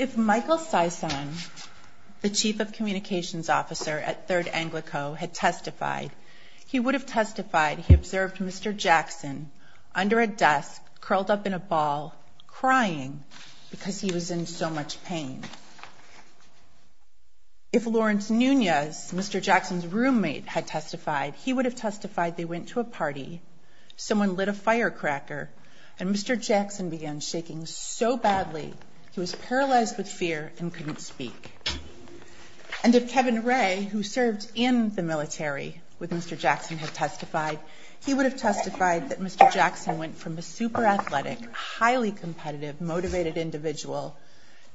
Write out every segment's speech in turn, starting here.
If Michael Sison, the Chief of Communications Officer at 3rd Anglico, had testified, he would have testified he observed Mr. Jackson under a desk, curled up in a ball, crying because he was in so much pain. If Lawrence Nunez, Mr. Jackson's roommate, had testified, he would have testified they went to a party, someone lit a firecracker, and Mr. Jackson began shaking so badly he was paralyzed with fear and couldn't speak. And if Kevin Ray, who served in the military with Mr. Jackson, had testified, he would have testified that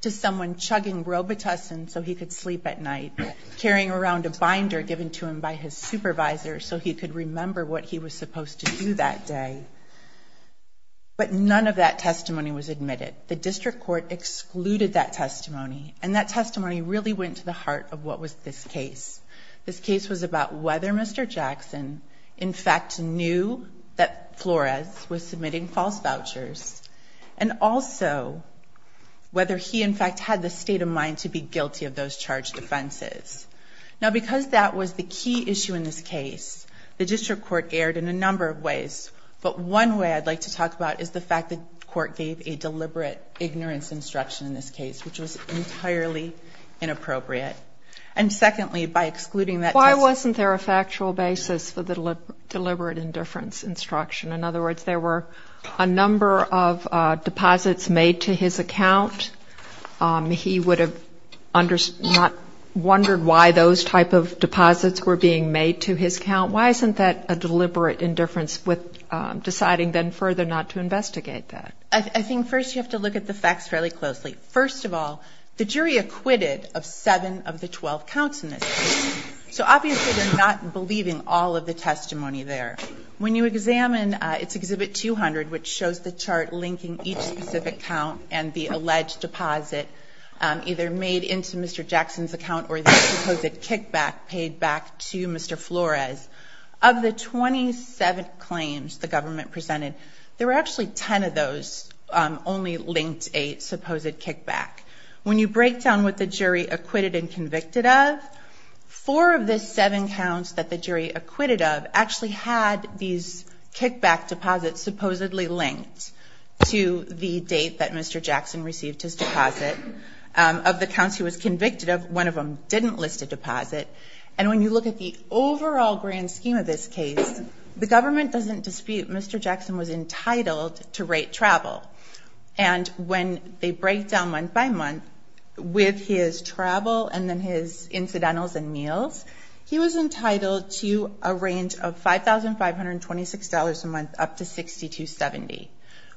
to someone chugging Robitussin so he could sleep at night, carrying around a binder given to him by his supervisor so he could remember what he was supposed to do that day. But none of that testimony was admitted. The district court excluded that testimony, and that testimony really went to the heart of what was this case. This case was about whether Mr. Jackson, in fact, knew that Flores was submitting false vouchers, and also whether he, in fact, had the state of mind to be guilty of those charged offenses. Now, because that was the key issue in this case, the district court erred in a number of ways, but one way I'd like to talk about is the fact that the court gave a deliberate ignorance instruction in this case, which was entirely inappropriate. And secondly, by excluding that testimony wasn't there a factual basis for the deliberate indifference instruction? In other words, there were a number of deposits made to his account. He would have wondered why those type of deposits were being made to his account. Why isn't that a deliberate indifference with deciding then further not to investigate that? I think first you have to look at the facts fairly closely. First of all, the jury acquitted of seven of the twelve counts in this case. So obviously they're not believing all of the testimony there. When you examine its Exhibit 200, which shows the chart linking each specific count and the alleged deposit either made into Mr. Jackson's account or the supposed kickback paid back to Mr. Flores, of the 27 claims the government presented, there were actually 10 of those only linked a supposed kickback. When you break down what the jury acquitted and convicted of, four of the seven counts that the jury acquitted of actually had these kickback deposits supposedly linked to the date that Mr. Jackson received his deposit. Of the counts he was convicted of, one of them didn't list a deposit. And when you look at the overall grand scheme of this case, the government doesn't dispute Mr. Jackson was entitled to rate travel. And when they break down month by month with his travel and then his incidentals and meals, he was entitled to a range of $5,526 a month up to $6,270.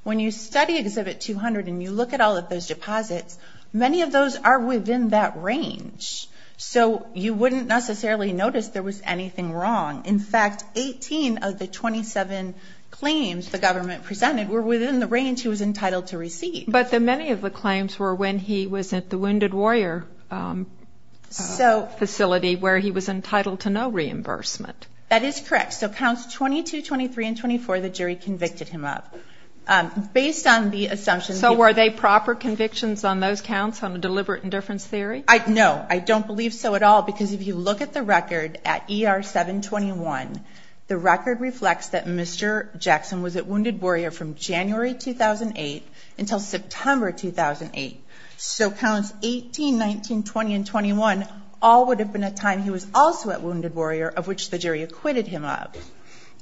When you study Exhibit 200 and you look at all of those deposits, many of those are within that range. So you wouldn't necessarily notice there was anything wrong. In fact, 18 of the 27 claims the government presented were within the range he was entitled to receive. But many of the claims were when he was at the Wounded Warrior facility where he was entitled to no reimbursement. That is correct. So counts 22, 23, and 24 the jury convicted him of. Based on the assumption... So were they proper convictions on those counts on a deliberate indifference theory? No. I don't believe so at all because if you look at the record at ER 721, the record reflects that Mr. Jackson was at Wounded Warrior from January 2008 until September 2008. So counts 18, 19, 20, and 21 all would have been a time he was also at Wounded Warrior, of which the jury acquitted him of.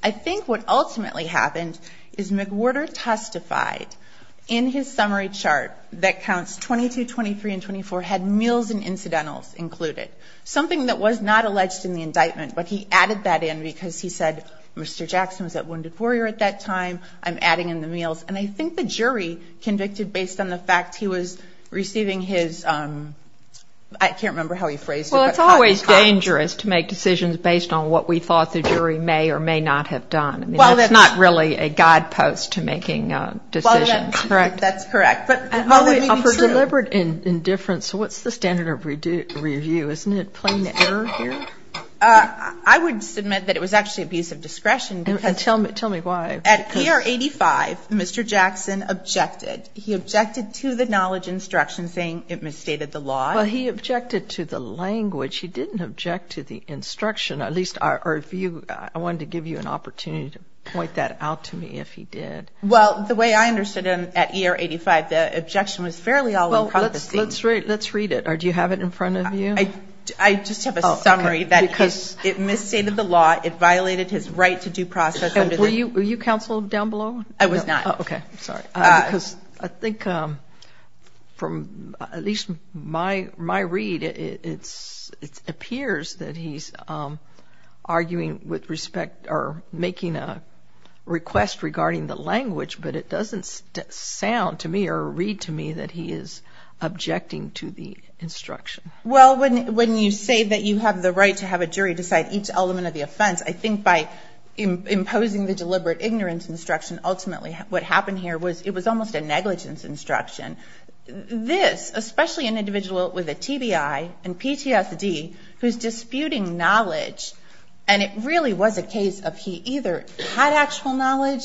I think what ultimately happened is McWhorter testified in his summary chart that counts 22, 23, and 24 had meals and incidentals included. Something that was not alleged in the indictment, but he added that in because he said Mr. Jackson was at Wounded Warrior at that time. I'm adding in the meals and I think the jury convicted based on the fact he was receiving his... I can't remember how he phrased it. Well, it's always dangerous to make decisions based on what we thought the jury may or may not have done. It's not really a guidepost to making a decision. That's correct. For deliberate indifference, what's the standard of review? Isn't it plain error here? I would submit that it was actually abuse of discretion because... In 1985, Mr. Jackson objected. He objected to the knowledge instruction saying it misstated the law. Well, he objected to the language. He didn't object to the instruction, at least our view. I wanted to give you an opportunity to point that out to me if he did. Well, the way I understood him at year 85, the objection was fairly... Let's read it or do you have it in front of you? I just have a summary that it misstated the law. It violated his right to due process. Were you counseled down below? I was not. Okay. Sorry. I think from at least my read, it appears that he's arguing with respect or making a request regarding the language, but it doesn't sound to me or read to me that he is objecting to the instruction. Well, when you say that you have the right to have a jury decide each element of the law, imposing the deliberate ignorance instruction, ultimately what happened here was it was almost a negligence instruction. This, especially an individual with a TBI and PTSD who's disputing knowledge, and it really was a case of he either had actual knowledge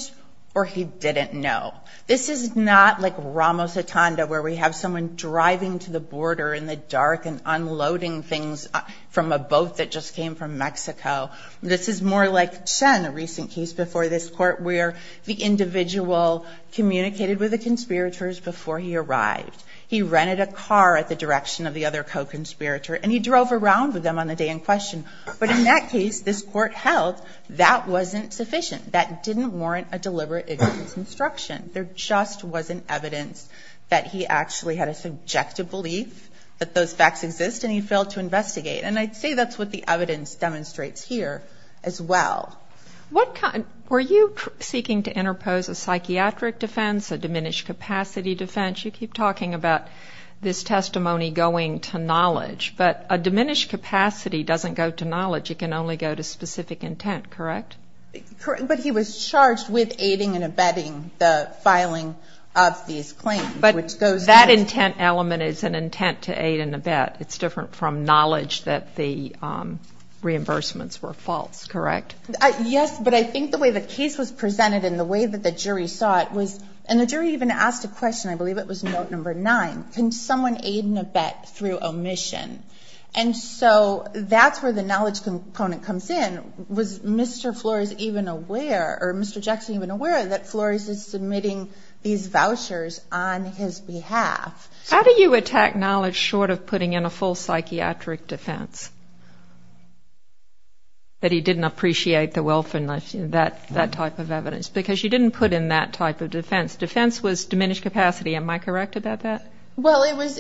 or he didn't know. This is not like Ramos Atanda where we have someone driving to the border in the dark and unloading things from a boat that just came from Mexico. This is more like Chen, a recent case before this court where the individual communicated with the conspirators before he arrived. He rented a car at the direction of the other co-conspirator and he drove around with them on the day in question. But in that case, this court held that wasn't sufficient. That didn't warrant a deliberate ignorance instruction. There just wasn't evidence that he actually had a subjective belief that those facts exist and he failed to investigate. And I'd say that's what the evidence demonstrates here as well. Were you seeking to interpose a psychiatric defense, a diminished capacity defense? You keep talking about this testimony going to knowledge, but a diminished capacity doesn't go to knowledge. It can only go to specific intent, correct? Correct. But he was charged with aiding and abetting the filing of these claims. But that intent element is an intent to aid and abet. It's different from knowledge that the reimbursements were false, correct? Yes, but I think the way the case was presented and the way that the jury saw it was, and the jury even asked a question, I believe it was note number nine, can someone aid and abet through omission? And so that's where the knowledge component comes in, was Mr. Flores even aware, or Mr. Jackson even aware that Flores is submitting these vouchers on his behalf. How do you attack knowledge short of putting in a false psychiatric defense, that he didn't appreciate the wealth and that type of evidence? Because you didn't put in that type of defense. Defense was diminished capacity. Am I correct about that? Well, it was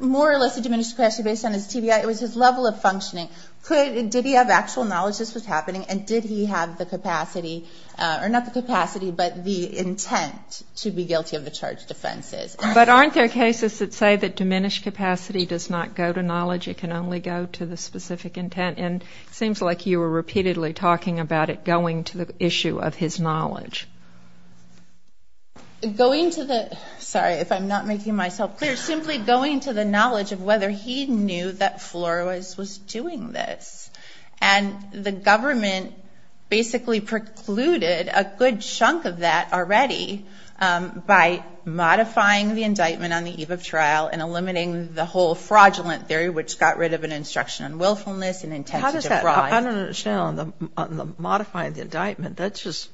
more or less a diminished capacity based on his TBI. It was his level of functioning. Did he have actual knowledge this was happening, and did he have the capacity, or not the capacity, but the intent to be guilty of the charged offenses? But aren't there cases that say that diminished capacity does not go to knowledge, it can only go to the specific intent? And it seems like you were repeatedly talking about it going to the issue of his knowledge. Going to the, sorry, if I'm not making myself clear, simply going to the knowledge of whether he knew that Flores was doing this. And the government basically precluded a good chunk of that already by modifying the indictment on the eve of trial and eliminating the whole fraudulent theory, which got rid of an instruction on willfulness and intent to defraud. How does that, I don't understand, on the modifying the indictment, that just,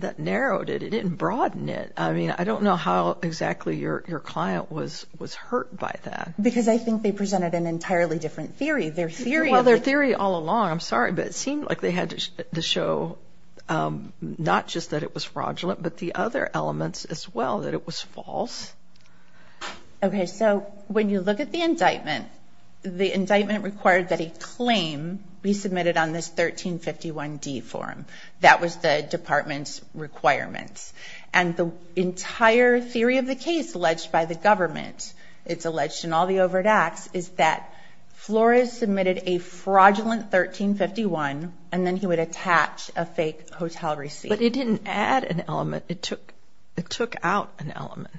that narrowed it, it didn't broaden it. I mean, I don't know how exactly your client was hurt by that. Because I think they presented an entirely different theory. Their theory of the- Well, their theory all along, I'm sorry, but it seemed like they had to show not just that it was fraudulent, but the other elements as well, that it was false. Okay, so when you look at the indictment, the indictment required that a claim be submitted on this 1351D form. That was the department's requirements. And the entire theory of the overt acts is that Flores submitted a fraudulent 1351, and then he would attach a fake hotel receipt. But it didn't add an element. It took out an element.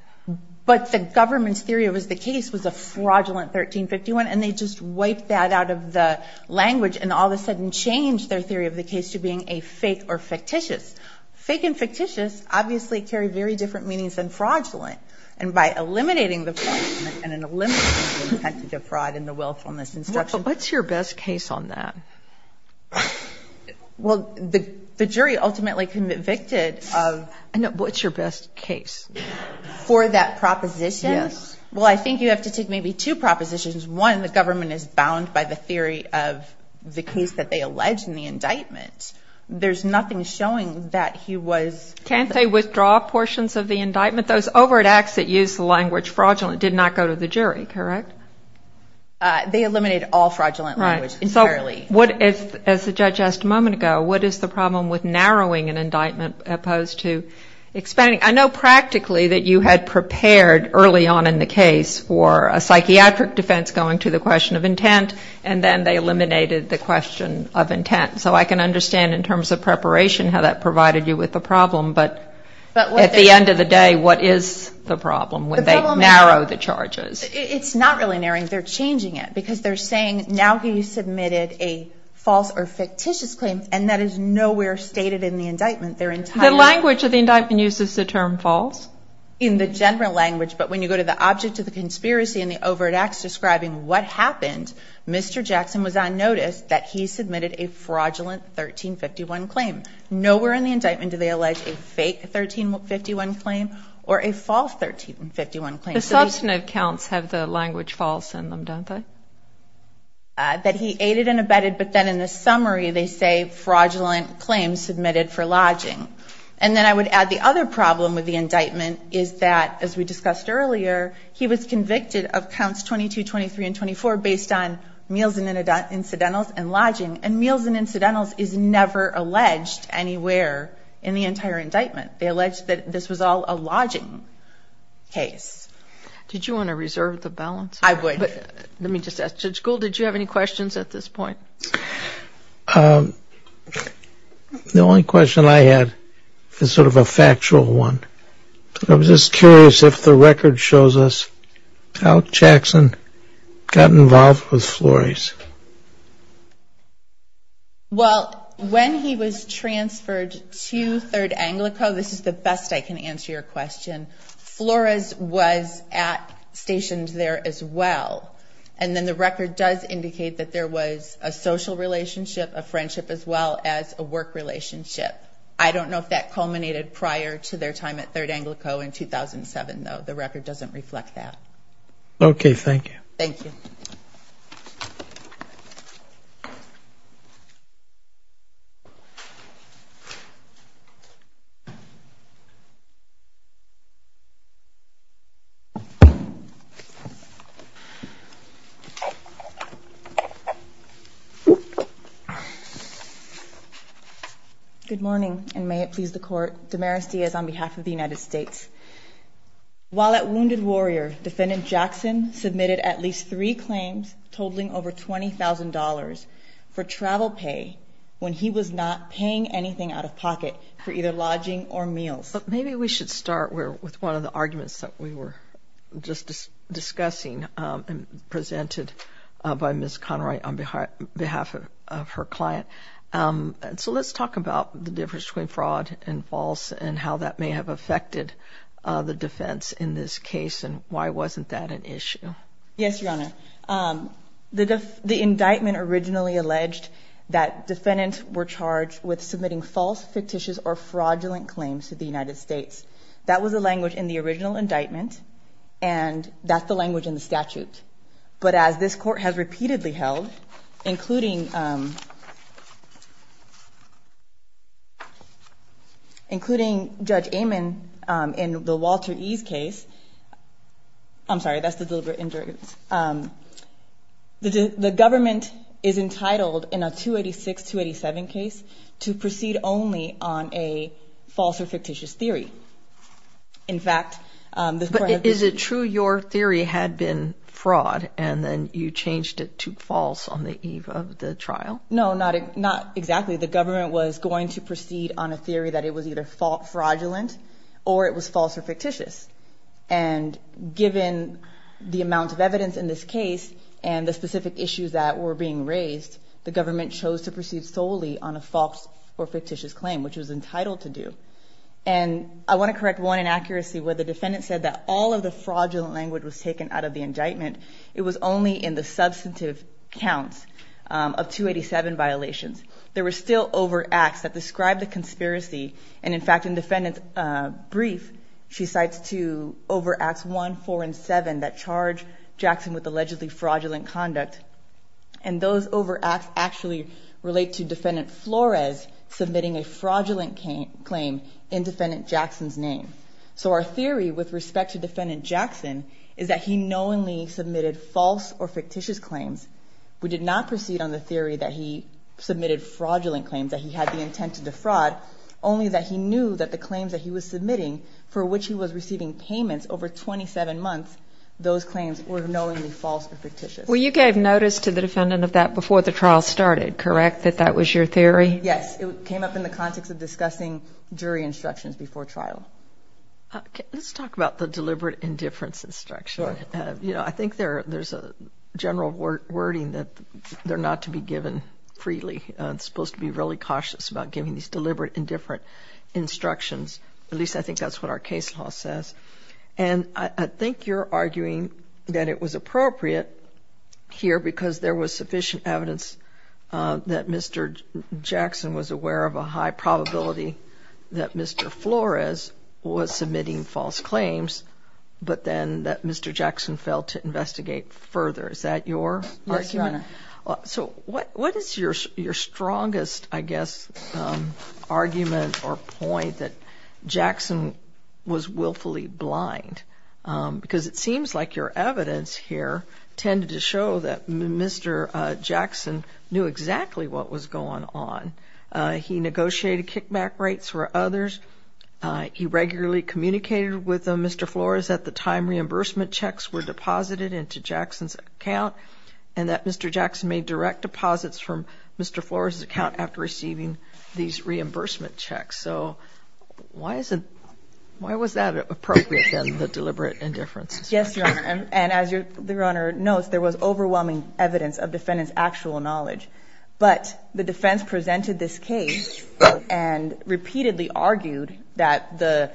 But the government's theory of the case was a fraudulent 1351, and they just wiped that out of the language and all of a sudden changed their theory of the case to being a fake or fictitious. Fake and fictitious obviously carry very different meanings than fraudulent. And by eliminating the fraud and eliminating the intent of fraud in the willfulness instruction- What's your best case on that? Well, the jury ultimately convicted of- What's your best case? For that proposition? Yes. Well, I think you have to take maybe two propositions. One, the government is bound by the theory of the case that they allege in the indictment. There's nothing showing that he was- Can't they withdraw portions of the indictment? Those overt acts that use the language fraudulent did not go to the jury, correct? They eliminated all fraudulent language entirely. Right. So what if, as the judge asked a moment ago, what is the problem with narrowing an indictment opposed to expanding? I know practically that you had prepared early on in the case for a psychiatric defense going to the question of intent, and then they eliminated the question of intent. So I can understand in terms of preparation how that provided you with the answer, but at the end of the day, what is the problem when they narrow the charges? It's not really narrowing. They're changing it because they're saying now he submitted a false or fictitious claim, and that is nowhere stated in the indictment. They're entirely- The language of the indictment uses the term false? In the general language, but when you go to the object of the conspiracy and the overt acts describing what happened, Mr. Jackson was on notice that he submitted a fraudulent 1351 claim. Nowhere in the indictment do they allege a fake 1351 claim or a false 1351 claim. The substantive counts have the language false in them, don't they? That he aided and abetted, but then in the summary they say fraudulent claims submitted for lodging. And then I would add the other problem with the indictment is that, as we discussed earlier, he was convicted of counts 22, 23, and 24 based on meals and incidentals and lodging, and meals and incidentals is never alleged anywhere in the entire indictment. They allege that this was all a lodging case. Did you want to reserve the balance? I would. Let me just ask, Judge Gould, did you have any questions at this point? The only question I had is sort of a factual one. I was just curious if the record shows us how Jackson got involved with Flores. Well, when he was transferred to 3rd Anglico, this is the best I can answer your question, Flores was stationed there as well. And then the record does indicate that there was a social relationship, a friendship, as well as a work relationship. I don't know if that reflects that. Okay, thank you. Thank you. Good morning, and may it please the Court. Damaris Diaz on behalf of the United States. While at Wounded Warrior, Defendant Jackson submitted at least three claims totaling over $20,000 for travel pay when he was not paying anything out of pocket for either lodging or meals. But maybe we should start with one of the arguments that we were just discussing and presented by Ms. Conroy on behalf of her client. So let's talk about the difference between Yes, Your Honor. The indictment originally alleged that defendants were charged with submitting false, fictitious, or fraudulent claims to the United States. That was the language in the original indictment, and that's the language in the statute. But as this Court has repeatedly held, including Judge Amon in the Walter E.'s case, I'm sorry, that's the deliberate injury. The government is entitled in a 286-287 case to proceed only on a false or fictitious theory. In fact, this Court has you changed it to false on the eve of the trial? No, not exactly. The government was going to proceed on a theory that it was either fraudulent or it was false or fictitious. And given the amount of evidence in this case and the specific issues that were being raised, the government chose to proceed solely on a false or fictitious claim, which it was entitled to do. And I want to correct one inaccuracy where the defendant said that all of the fraudulent language was taken out of the indictment. It was only in the substantive counts of 287 violations. There were still overacts that describe the conspiracy. And in fact, in the defendant's brief, she cites two overacts, one, four, and seven, that charge Jackson with allegedly fraudulent conduct. And those overacts actually relate to Defendant Flores submitting a fraudulent claim in Defendant Jackson's name. So our theory with respect to Defendant Jackson is that he knowingly submitted false or fictitious claims. We did not proceed on the theory that he submitted fraudulent claims, that he had the intent to defraud, only that he knew that the claims that he was submitting, for which he was receiving payments over 27 months, those claims were knowingly false or fictitious. Well, you gave notice to the defendant of that before the trial started, correct, that that was your theory? Yes. It came up in the context of discussing jury instructions before trial. Let's talk about the deliberate indifference instruction. I think there's a general wording that they're not to be given freely. It's supposed to be really cautious about giving these deliberate indifference instructions. At least I think that's what our case law says. And I think you're arguing that it was appropriate here because there was sufficient evidence that Mr. Jackson was aware of a high probability that Mr. Flores was submitting false claims, but then that Mr. Jackson failed to investigate further. Is that your argument? Yes, Your Honor. So what is your strongest, I guess, argument or point that Jackson was willfully blind? Because it seems like your evidence here tended to show that Mr. Jackson knew exactly what was going on. He negotiated kickback rates for others. He regularly communicated with Mr. Flores that the time reimbursement checks were deposited into Jackson's account and that Mr. Jackson made direct deposits from Mr. Flores' account after receiving these deliberate indifferences. Yes, Your Honor. And as Your Honor knows, there was overwhelming evidence of defendant's actual knowledge. But the defense presented this case and repeatedly argued that the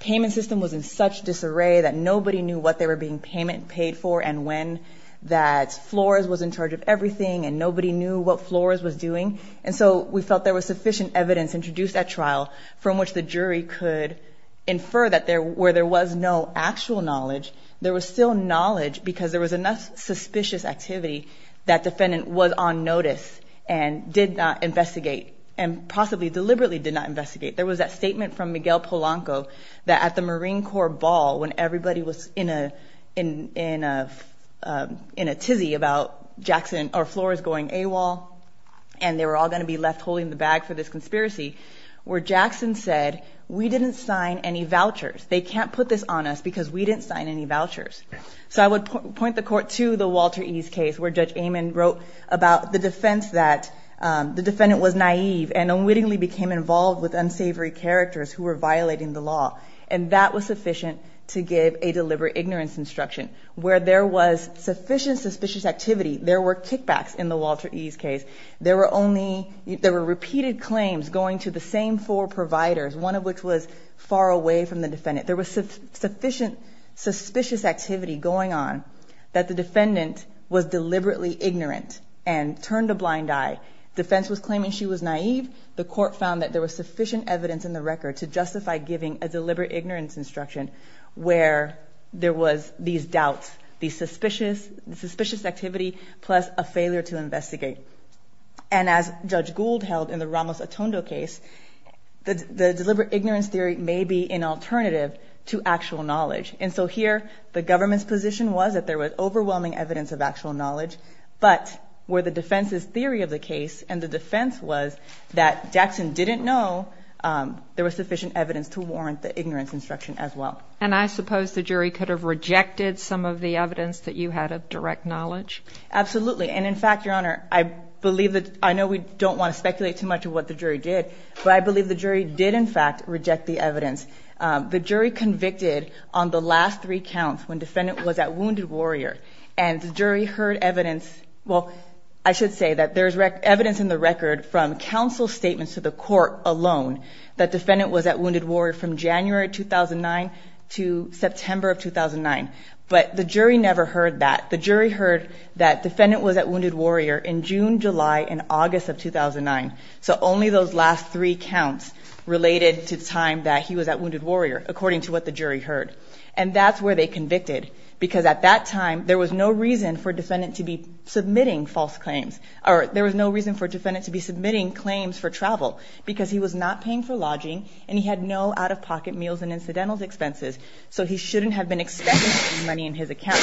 payment system was in such disarray that nobody knew what they were being payment paid for and when, that Flores was in charge of everything and nobody knew what Flores was doing. And so we felt there was sufficient evidence introduced at trial from which the jury could infer that where there was no actual knowledge, there was still knowledge because there was enough suspicious activity that defendant was on notice and did not investigate and possibly deliberately did not investigate. There was that statement from Miguel Polanco that at the Marine Corps ball when everybody was in a tizzy about Jackson or Flores going AWOL and they were all going to be left holding the bag for this conspiracy, where Jackson said, we didn't sign any vouchers. They can't put this on us because we didn't sign any vouchers. So I would point the court to the Walter Ease case where Judge Amon wrote about the defense that the defendant was naive and unwittingly became involved with unsavory characters who were violating the law. And that was sufficient to give a deliberate ignorance instruction where there was sufficient suspicious activity. There were kickbacks in the Walter Ease case. Repeated claims going to the same four providers, one of which was far away from the defendant. There was sufficient suspicious activity going on that the defendant was deliberately ignorant and turned a blind eye. The defense was claiming she was naive. The court found that there was sufficient evidence in the record to justify giving a deliberate ignorance instruction where there was these doubts, these suspicious activity, plus a failure to investigate. And as Judge Gould held in the Ramos-Otondo case, the deliberate ignorance theory may be an alternative to actual knowledge. And so here, the government's position was that there was overwhelming evidence of actual knowledge, but where the defense's theory of the case and the defense was that Jackson didn't know, there was sufficient evidence to warrant the ignorance instruction as well. And I suppose the jury could have rejected some of the evidence that you had of direct knowledge? Absolutely. And in fact, Your Honor, I know we don't want to speculate too much of what the jury did, but I believe the jury did, in fact, reject the evidence. The jury convicted on the last three counts when defendant was at Wounded Warrior, and the jury heard evidence – well, I should say that there's evidence in the record from counsel's statements to the court alone that defendant was at Wounded Warrior from January 2009 to September of 2009. They heard that defendant was at Wounded Warrior in June, July, and August of 2009. So only those last three counts related to the time that he was at Wounded Warrior, according to what the jury heard. And that's where they convicted, because at that time, there was no reason for defendant to be submitting false claims, or there was no reason for defendant to be submitting claims for travel, because he was not paying for lodging, and he had no out-of-pocket meals and incidentals expenses, so he shouldn't have been expecting money in his account.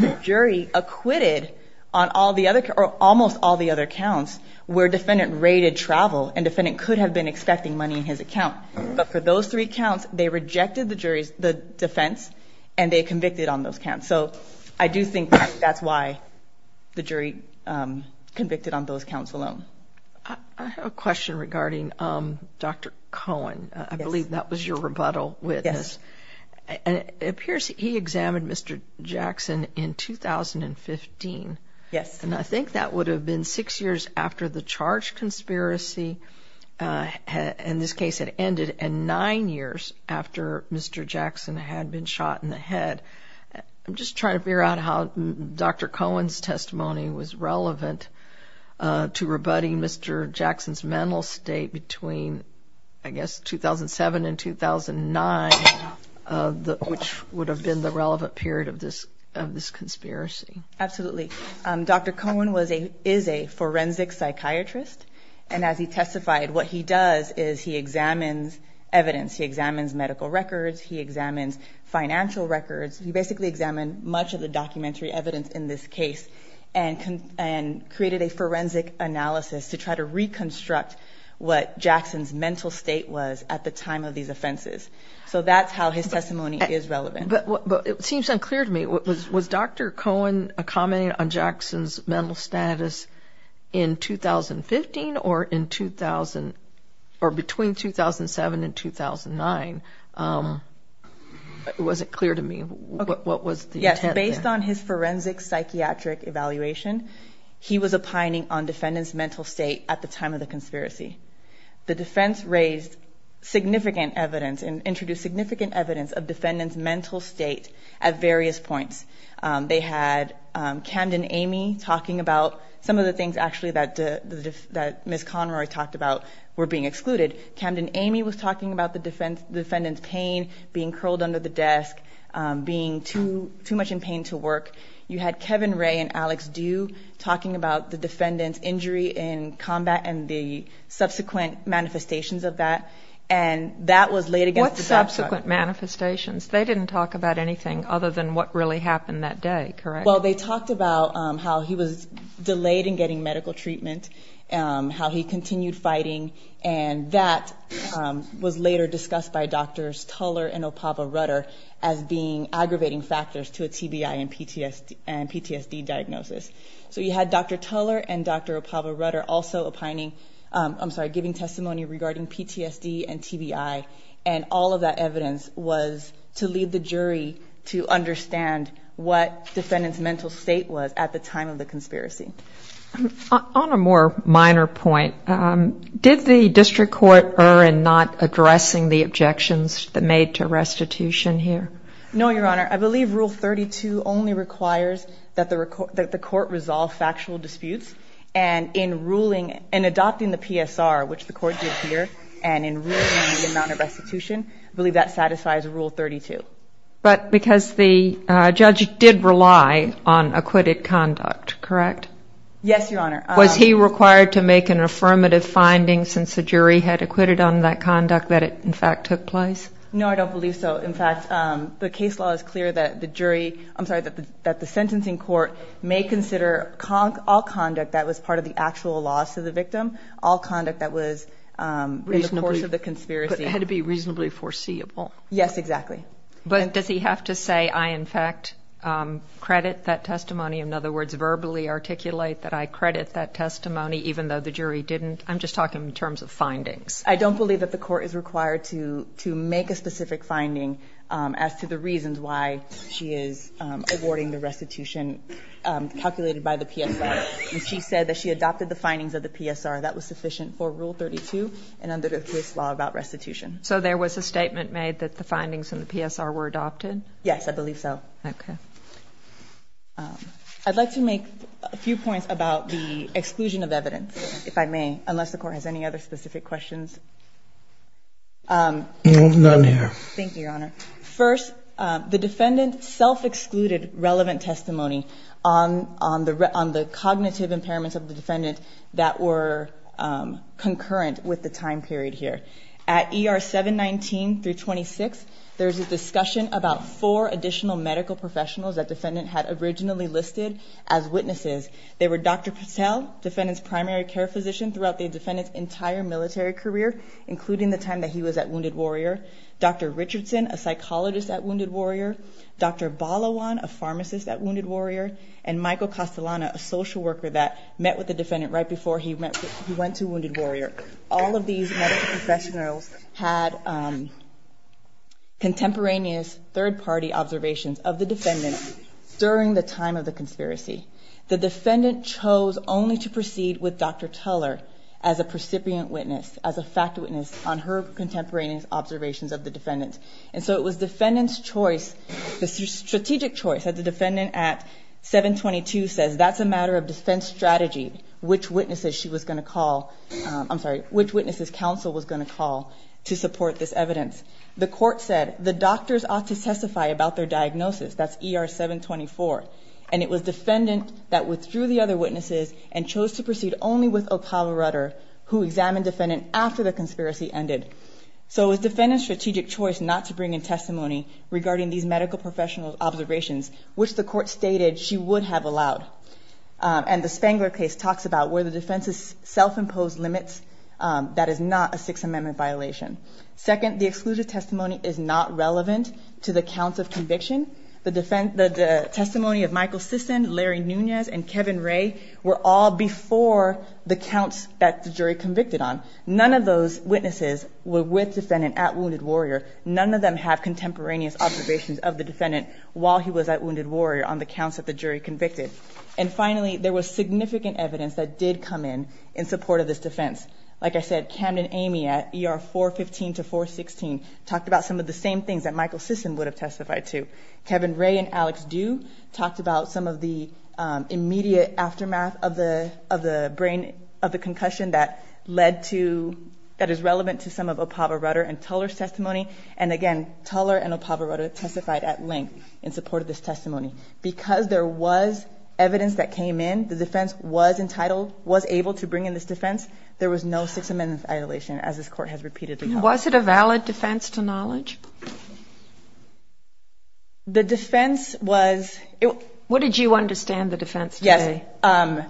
The jury acquitted on all the other – or almost all the other counts where defendant raided travel, and defendant could have been expecting money in his account. But for those three counts, they rejected the jury's – the defense, and they convicted on those counts. So I do think that's why the jury convicted on those counts alone. I have a question regarding Dr. Cohen. I believe that was your rebuttal witness. Yes. And it appears he examined Mr. Jackson in 2015. Yes. And I think that would have been six years after the charge conspiracy, in this case, had ended, and nine years after Mr. Jackson had been shot in the head. I'm just trying to figure out how Dr. Cohen's testimony was relevant to rebutting Mr. Jackson's mental state between, I guess, 2007 and 2009, which would have been the relevant period of this conspiracy. Absolutely. Dr. Cohen was a – is a forensic psychiatrist, and as he testified, what he does is he examines evidence. He examines medical records. He examines financial records. He basically examined much of the documentary evidence in this case and created a forensic analysis to try to reconstruct what Jackson's mental state was at the time of these offenses. So that's how his testimony is relevant. But it seems unclear to me. Was Dr. Cohen commenting on Jackson's mental status in 2015 or in – or between 2007 and 2009? It wasn't clear to me. What was the intent there? Yes. Based on his forensic psychiatric evaluation, he was opining on defendant's mental state at the time of the conspiracy. The defense raised significant evidence and introduced significant evidence of defendant's mental state at various points. They had Camden Amey talking about some of the things, actually, that Ms. Conroy talked about were being excluded. Camden Amey was talking about the defendant's pain, being curled under the desk, being too much in pain to work. You had Kevin Ray and Alex Due talking about the defendant's injury in combat and the subsequent manifestations of that. And that was laid against the desk. What subsequent manifestations? They didn't talk about anything other than what really happened that day, correct? Well, they talked about how he was delayed in getting medical treatment, how he continued fighting. And that was later discussed by Drs. Tuller and Opava-Rutter as being aggravating factors to a TBI and PTSD diagnosis. So you had Dr. Tuller and Dr. Opava-Rutter also giving testimony regarding PTSD and TBI. And all of that evidence was to lead the jury to understand what defendant's mental state was at the time of the conspiracy. On a more minor point, did the district court err in not addressing the objections that made to restitution here? No, Your Honor. I believe Rule 32 only requires that the court resolve factual disputes. And in adopting the PSR, which the court did here, and in ruling on the amount of restitution, I believe that satisfies Rule 32. But because the judge did rely on acquitted conduct, correct? Yes, Your Honor. Was he required to make an affirmative finding since the jury had acquitted on that conduct that it, in fact, took place? No, I don't believe so. In fact, the case law is clear that the jury, I'm sorry, that the sentencing court may consider all conduct that was part of the actual loss of the victim, all conduct that was in the course of the conspiracy. But it had to be reasonably foreseeable. Yes, exactly. But does he have to say, I, in fact, credit that testimony? In other words, verbally articulate that I credit that testimony even though the jury didn't? I'm just talking in terms of findings. I don't believe that the court is required to make a specific finding as to the reasons why she is awarding the restitution calculated by the PSR. And she said that she adopted the findings of the PSR. That was sufficient for Rule 32 and under the case law about restitution. So there was a statement made that the findings in the PSR were adopted? Yes, I believe so. Okay. I'd like to make a few points about the exclusion of evidence, if I may, unless the defendant's self-excluded relevant testimony on the cognitive impairments of the defendant that were concurrent with the time period here. At ER 719 through 26, there was a discussion about four additional medical professionals that the defendant had originally listed as witnesses. They were Dr. Patel, the defendant's primary care physician throughout the defendant's entire military career, including the time that he was at Wounded Warrior, Dr. Richardson, a psychologist at Wounded Warrior, Dr. Balawan, a pharmacist at Wounded Warrior, and Michael Castellana, a social worker that met with the defendant right before he went to Wounded Warrior. All of these medical professionals had contemporaneous third-party observations of the defendant during the time of the conspiracy. The defendant chose only to proceed with Dr. Tuller as a precipient witness, as a fact witness on her contemporaneous observations of the defendant. And so it was the defendant's choice, the strategic choice, that the defendant at 722 says that's a matter of defense strategy, which witnesses she was going to call, I'm sorry, which witnesses counsel was going to call to support this evidence. The court said the doctors ought to testify about their diagnosis, that's ER 724, and it was defendant that withdrew the other witnesses and chose to proceed only with O'Connell Rutter, who examined defendant after the conspiracy ended. So it was defendant's strategic choice not to bring in testimony regarding these medical professional observations, which the court stated she would have allowed. And the Spangler case talks about where the defense's self-imposed limits, that is not a Sixth Amendment violation. Second, the exclusive testimony is not relevant to the counts of conviction. The testimony of Michael Sisson, Larry Nunez, and Kevin Ray were all before the counts that the jury convicted on. None of those witnesses were with defendant at Wounded Warrior. None of them have contemporaneous observations of the defendant while he was at Wounded Warrior on the counts that the jury convicted. And finally, there was significant evidence that did come in in support of this defense. Like I said, Camden Amey at ER 415 to 416 talked about some of the same things that Michael Sisson would have testified to. Kevin Ray and Alex Du talked about some of the immediate aftermath of the brain, of the concussion that led to, that is relevant to some of O'Pava Rutter and Tuller's testimony. And again, Tuller and O'Pava Rutter testified at length in support of this testimony. Because there was evidence that came in, the defense was entitled, was able to bring in this defense. There was no Sixth Amendment violation, as this court has repeatedly called. Was it a valid defense to knowledge? The defense was... What did you understand the defense today? Yes.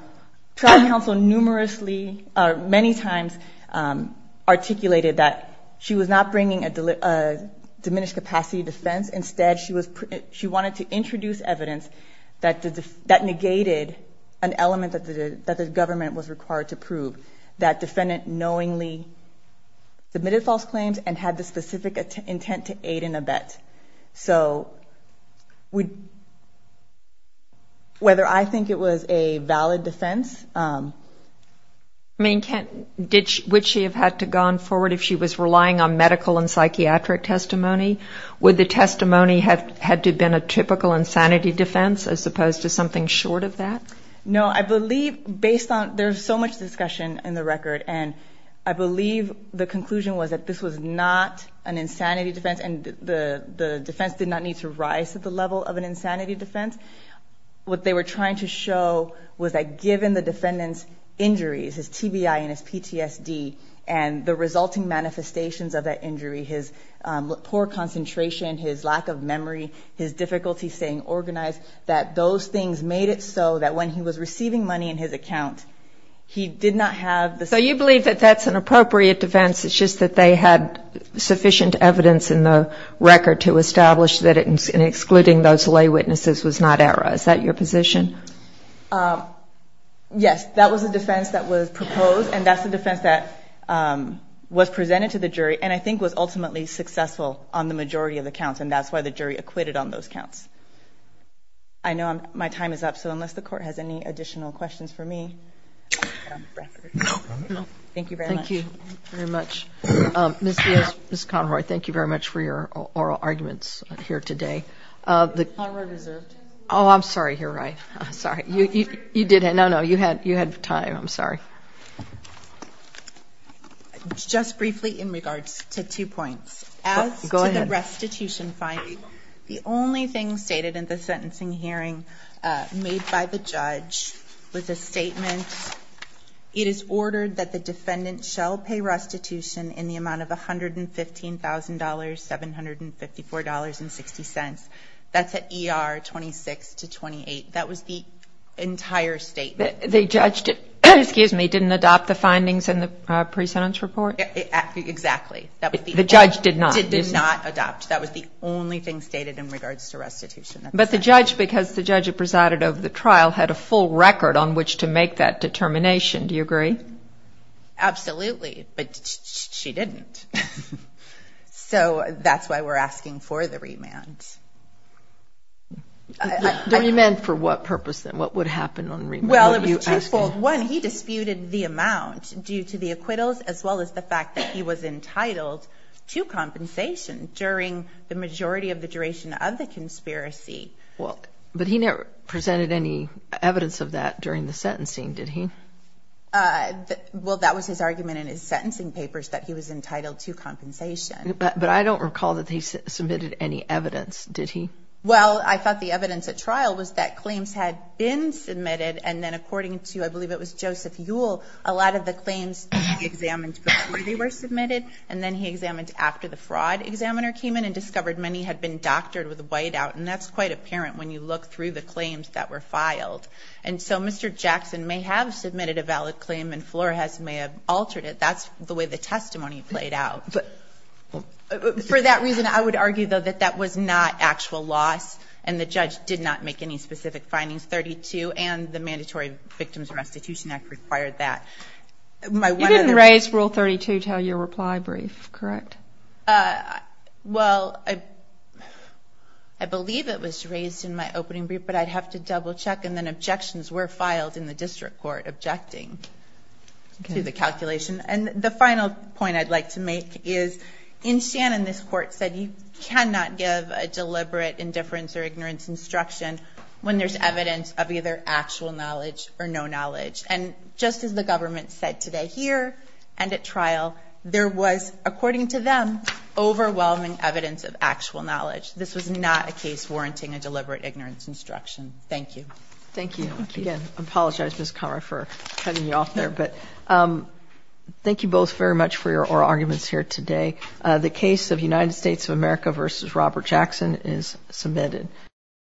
Trial counsel numerously, many times, articulated that she was not bringing a diminished capacity defense. Instead, she wanted to introduce evidence that negated an element that the defendant knowingly submitted false claims and had the specific intent to aid in a bet. Whether I think it was a valid defense... I mean, would she have had to have gone forward if she was relying on medical and psychiatric testimony? Would the testimony have had to have been a typical insanity defense as opposed to something short of that? No. I believe based on... There's so much discussion in the record. And I believe the conclusion was that this was not an insanity defense. And the defense did not need to rise to the level of an insanity defense. What they were trying to show was that given the defendant's injuries, his TBI and his PTSD, and the resulting manifestations of that injury, his poor concentration, his lack of memory, his difficulty staying organized, that those things made it so that when he was receiving money in his account, he did not have... So you believe that that's an appropriate defense. It's just that they had sufficient evidence in the record to establish that excluding those lay witnesses was not error. Is that your position? Yes. That was a defense that was proposed. And that's a defense that was presented to the jury and I think was ultimately successful on the majority of the counts. And that's why the jury acquitted on those counts. I know my time is up, so unless the court has any additional questions for me, I'm out of breath. Thank you very much. Thank you very much. Ms. Conroy, thank you very much for your oral arguments here today. Ms. Conroy deserved to speak. Oh, I'm sorry. You're right. Sorry. You did... No, no. You had time. I'm sorry. Just briefly in regards to two points. As to the restitution finding, the only thing stated in the sentencing hearing made by the judge was a statement, it is ordered that the defendant shall pay restitution in the amount of $115,754.60. That's at ER 26-28. That was the entire statement. The judge didn't adopt the findings in the pre-sentence report? Exactly. The judge did not? The judge did not adopt. That was the only thing stated in regards to restitution. But the judge, because the judge presided over the trial, had a full record on which to make that determination. Do you agree? Absolutely. But she didn't. So that's why we're asking for the remand. The remand for what purpose then? What would happen on remand? Well, it was twofold. One, he disputed the amount due to the acquittals as well as the fact that he was entitled to compensation during the majority of the duration of the conspiracy. But he never presented any evidence of that during the sentencing, did he? Well, that was his argument in his sentencing papers that he was entitled to compensation. But I don't recall that he submitted any evidence, did he? Well, I thought the evidence at trial was that claims had been submitted and then according to, I believe it was Joseph Ewell, a lot of the claims he examined before they were submitted and then he examined after the fraud examiner came in and discovered many had been doctored with a whiteout. And that's quite apparent when you look through the claims that were filed. And so Mr. Jackson may have submitted a valid claim and Flores may have altered it. That's the way the testimony played out. For that reason, I would argue, though, that that was not actual loss and the judge did not make any specific findings. 32 and the Mandatory Victims Restitution Act required that. You didn't raise Rule 32 until your reply brief, correct? Well, I believe it was raised in my opening brief, but I'd have to double check and then objections were filed in the district court objecting to the calculation. And the final point I'd like to make is in Shannon, this court said you cannot give a deliberate indifference or ignorance instruction when there's evidence of either actual knowledge or no knowledge. And just as the government said today here and at trial, there was, according to them, overwhelming evidence of actual knowledge. This was not a case warranting a deliberate ignorance instruction. Thank you. Thank you. Again, I apologize, Ms. Conroy, for cutting you off there. But thank you both very much for your oral arguments here today. The case of United States of America v. Robert Jackson is submitted.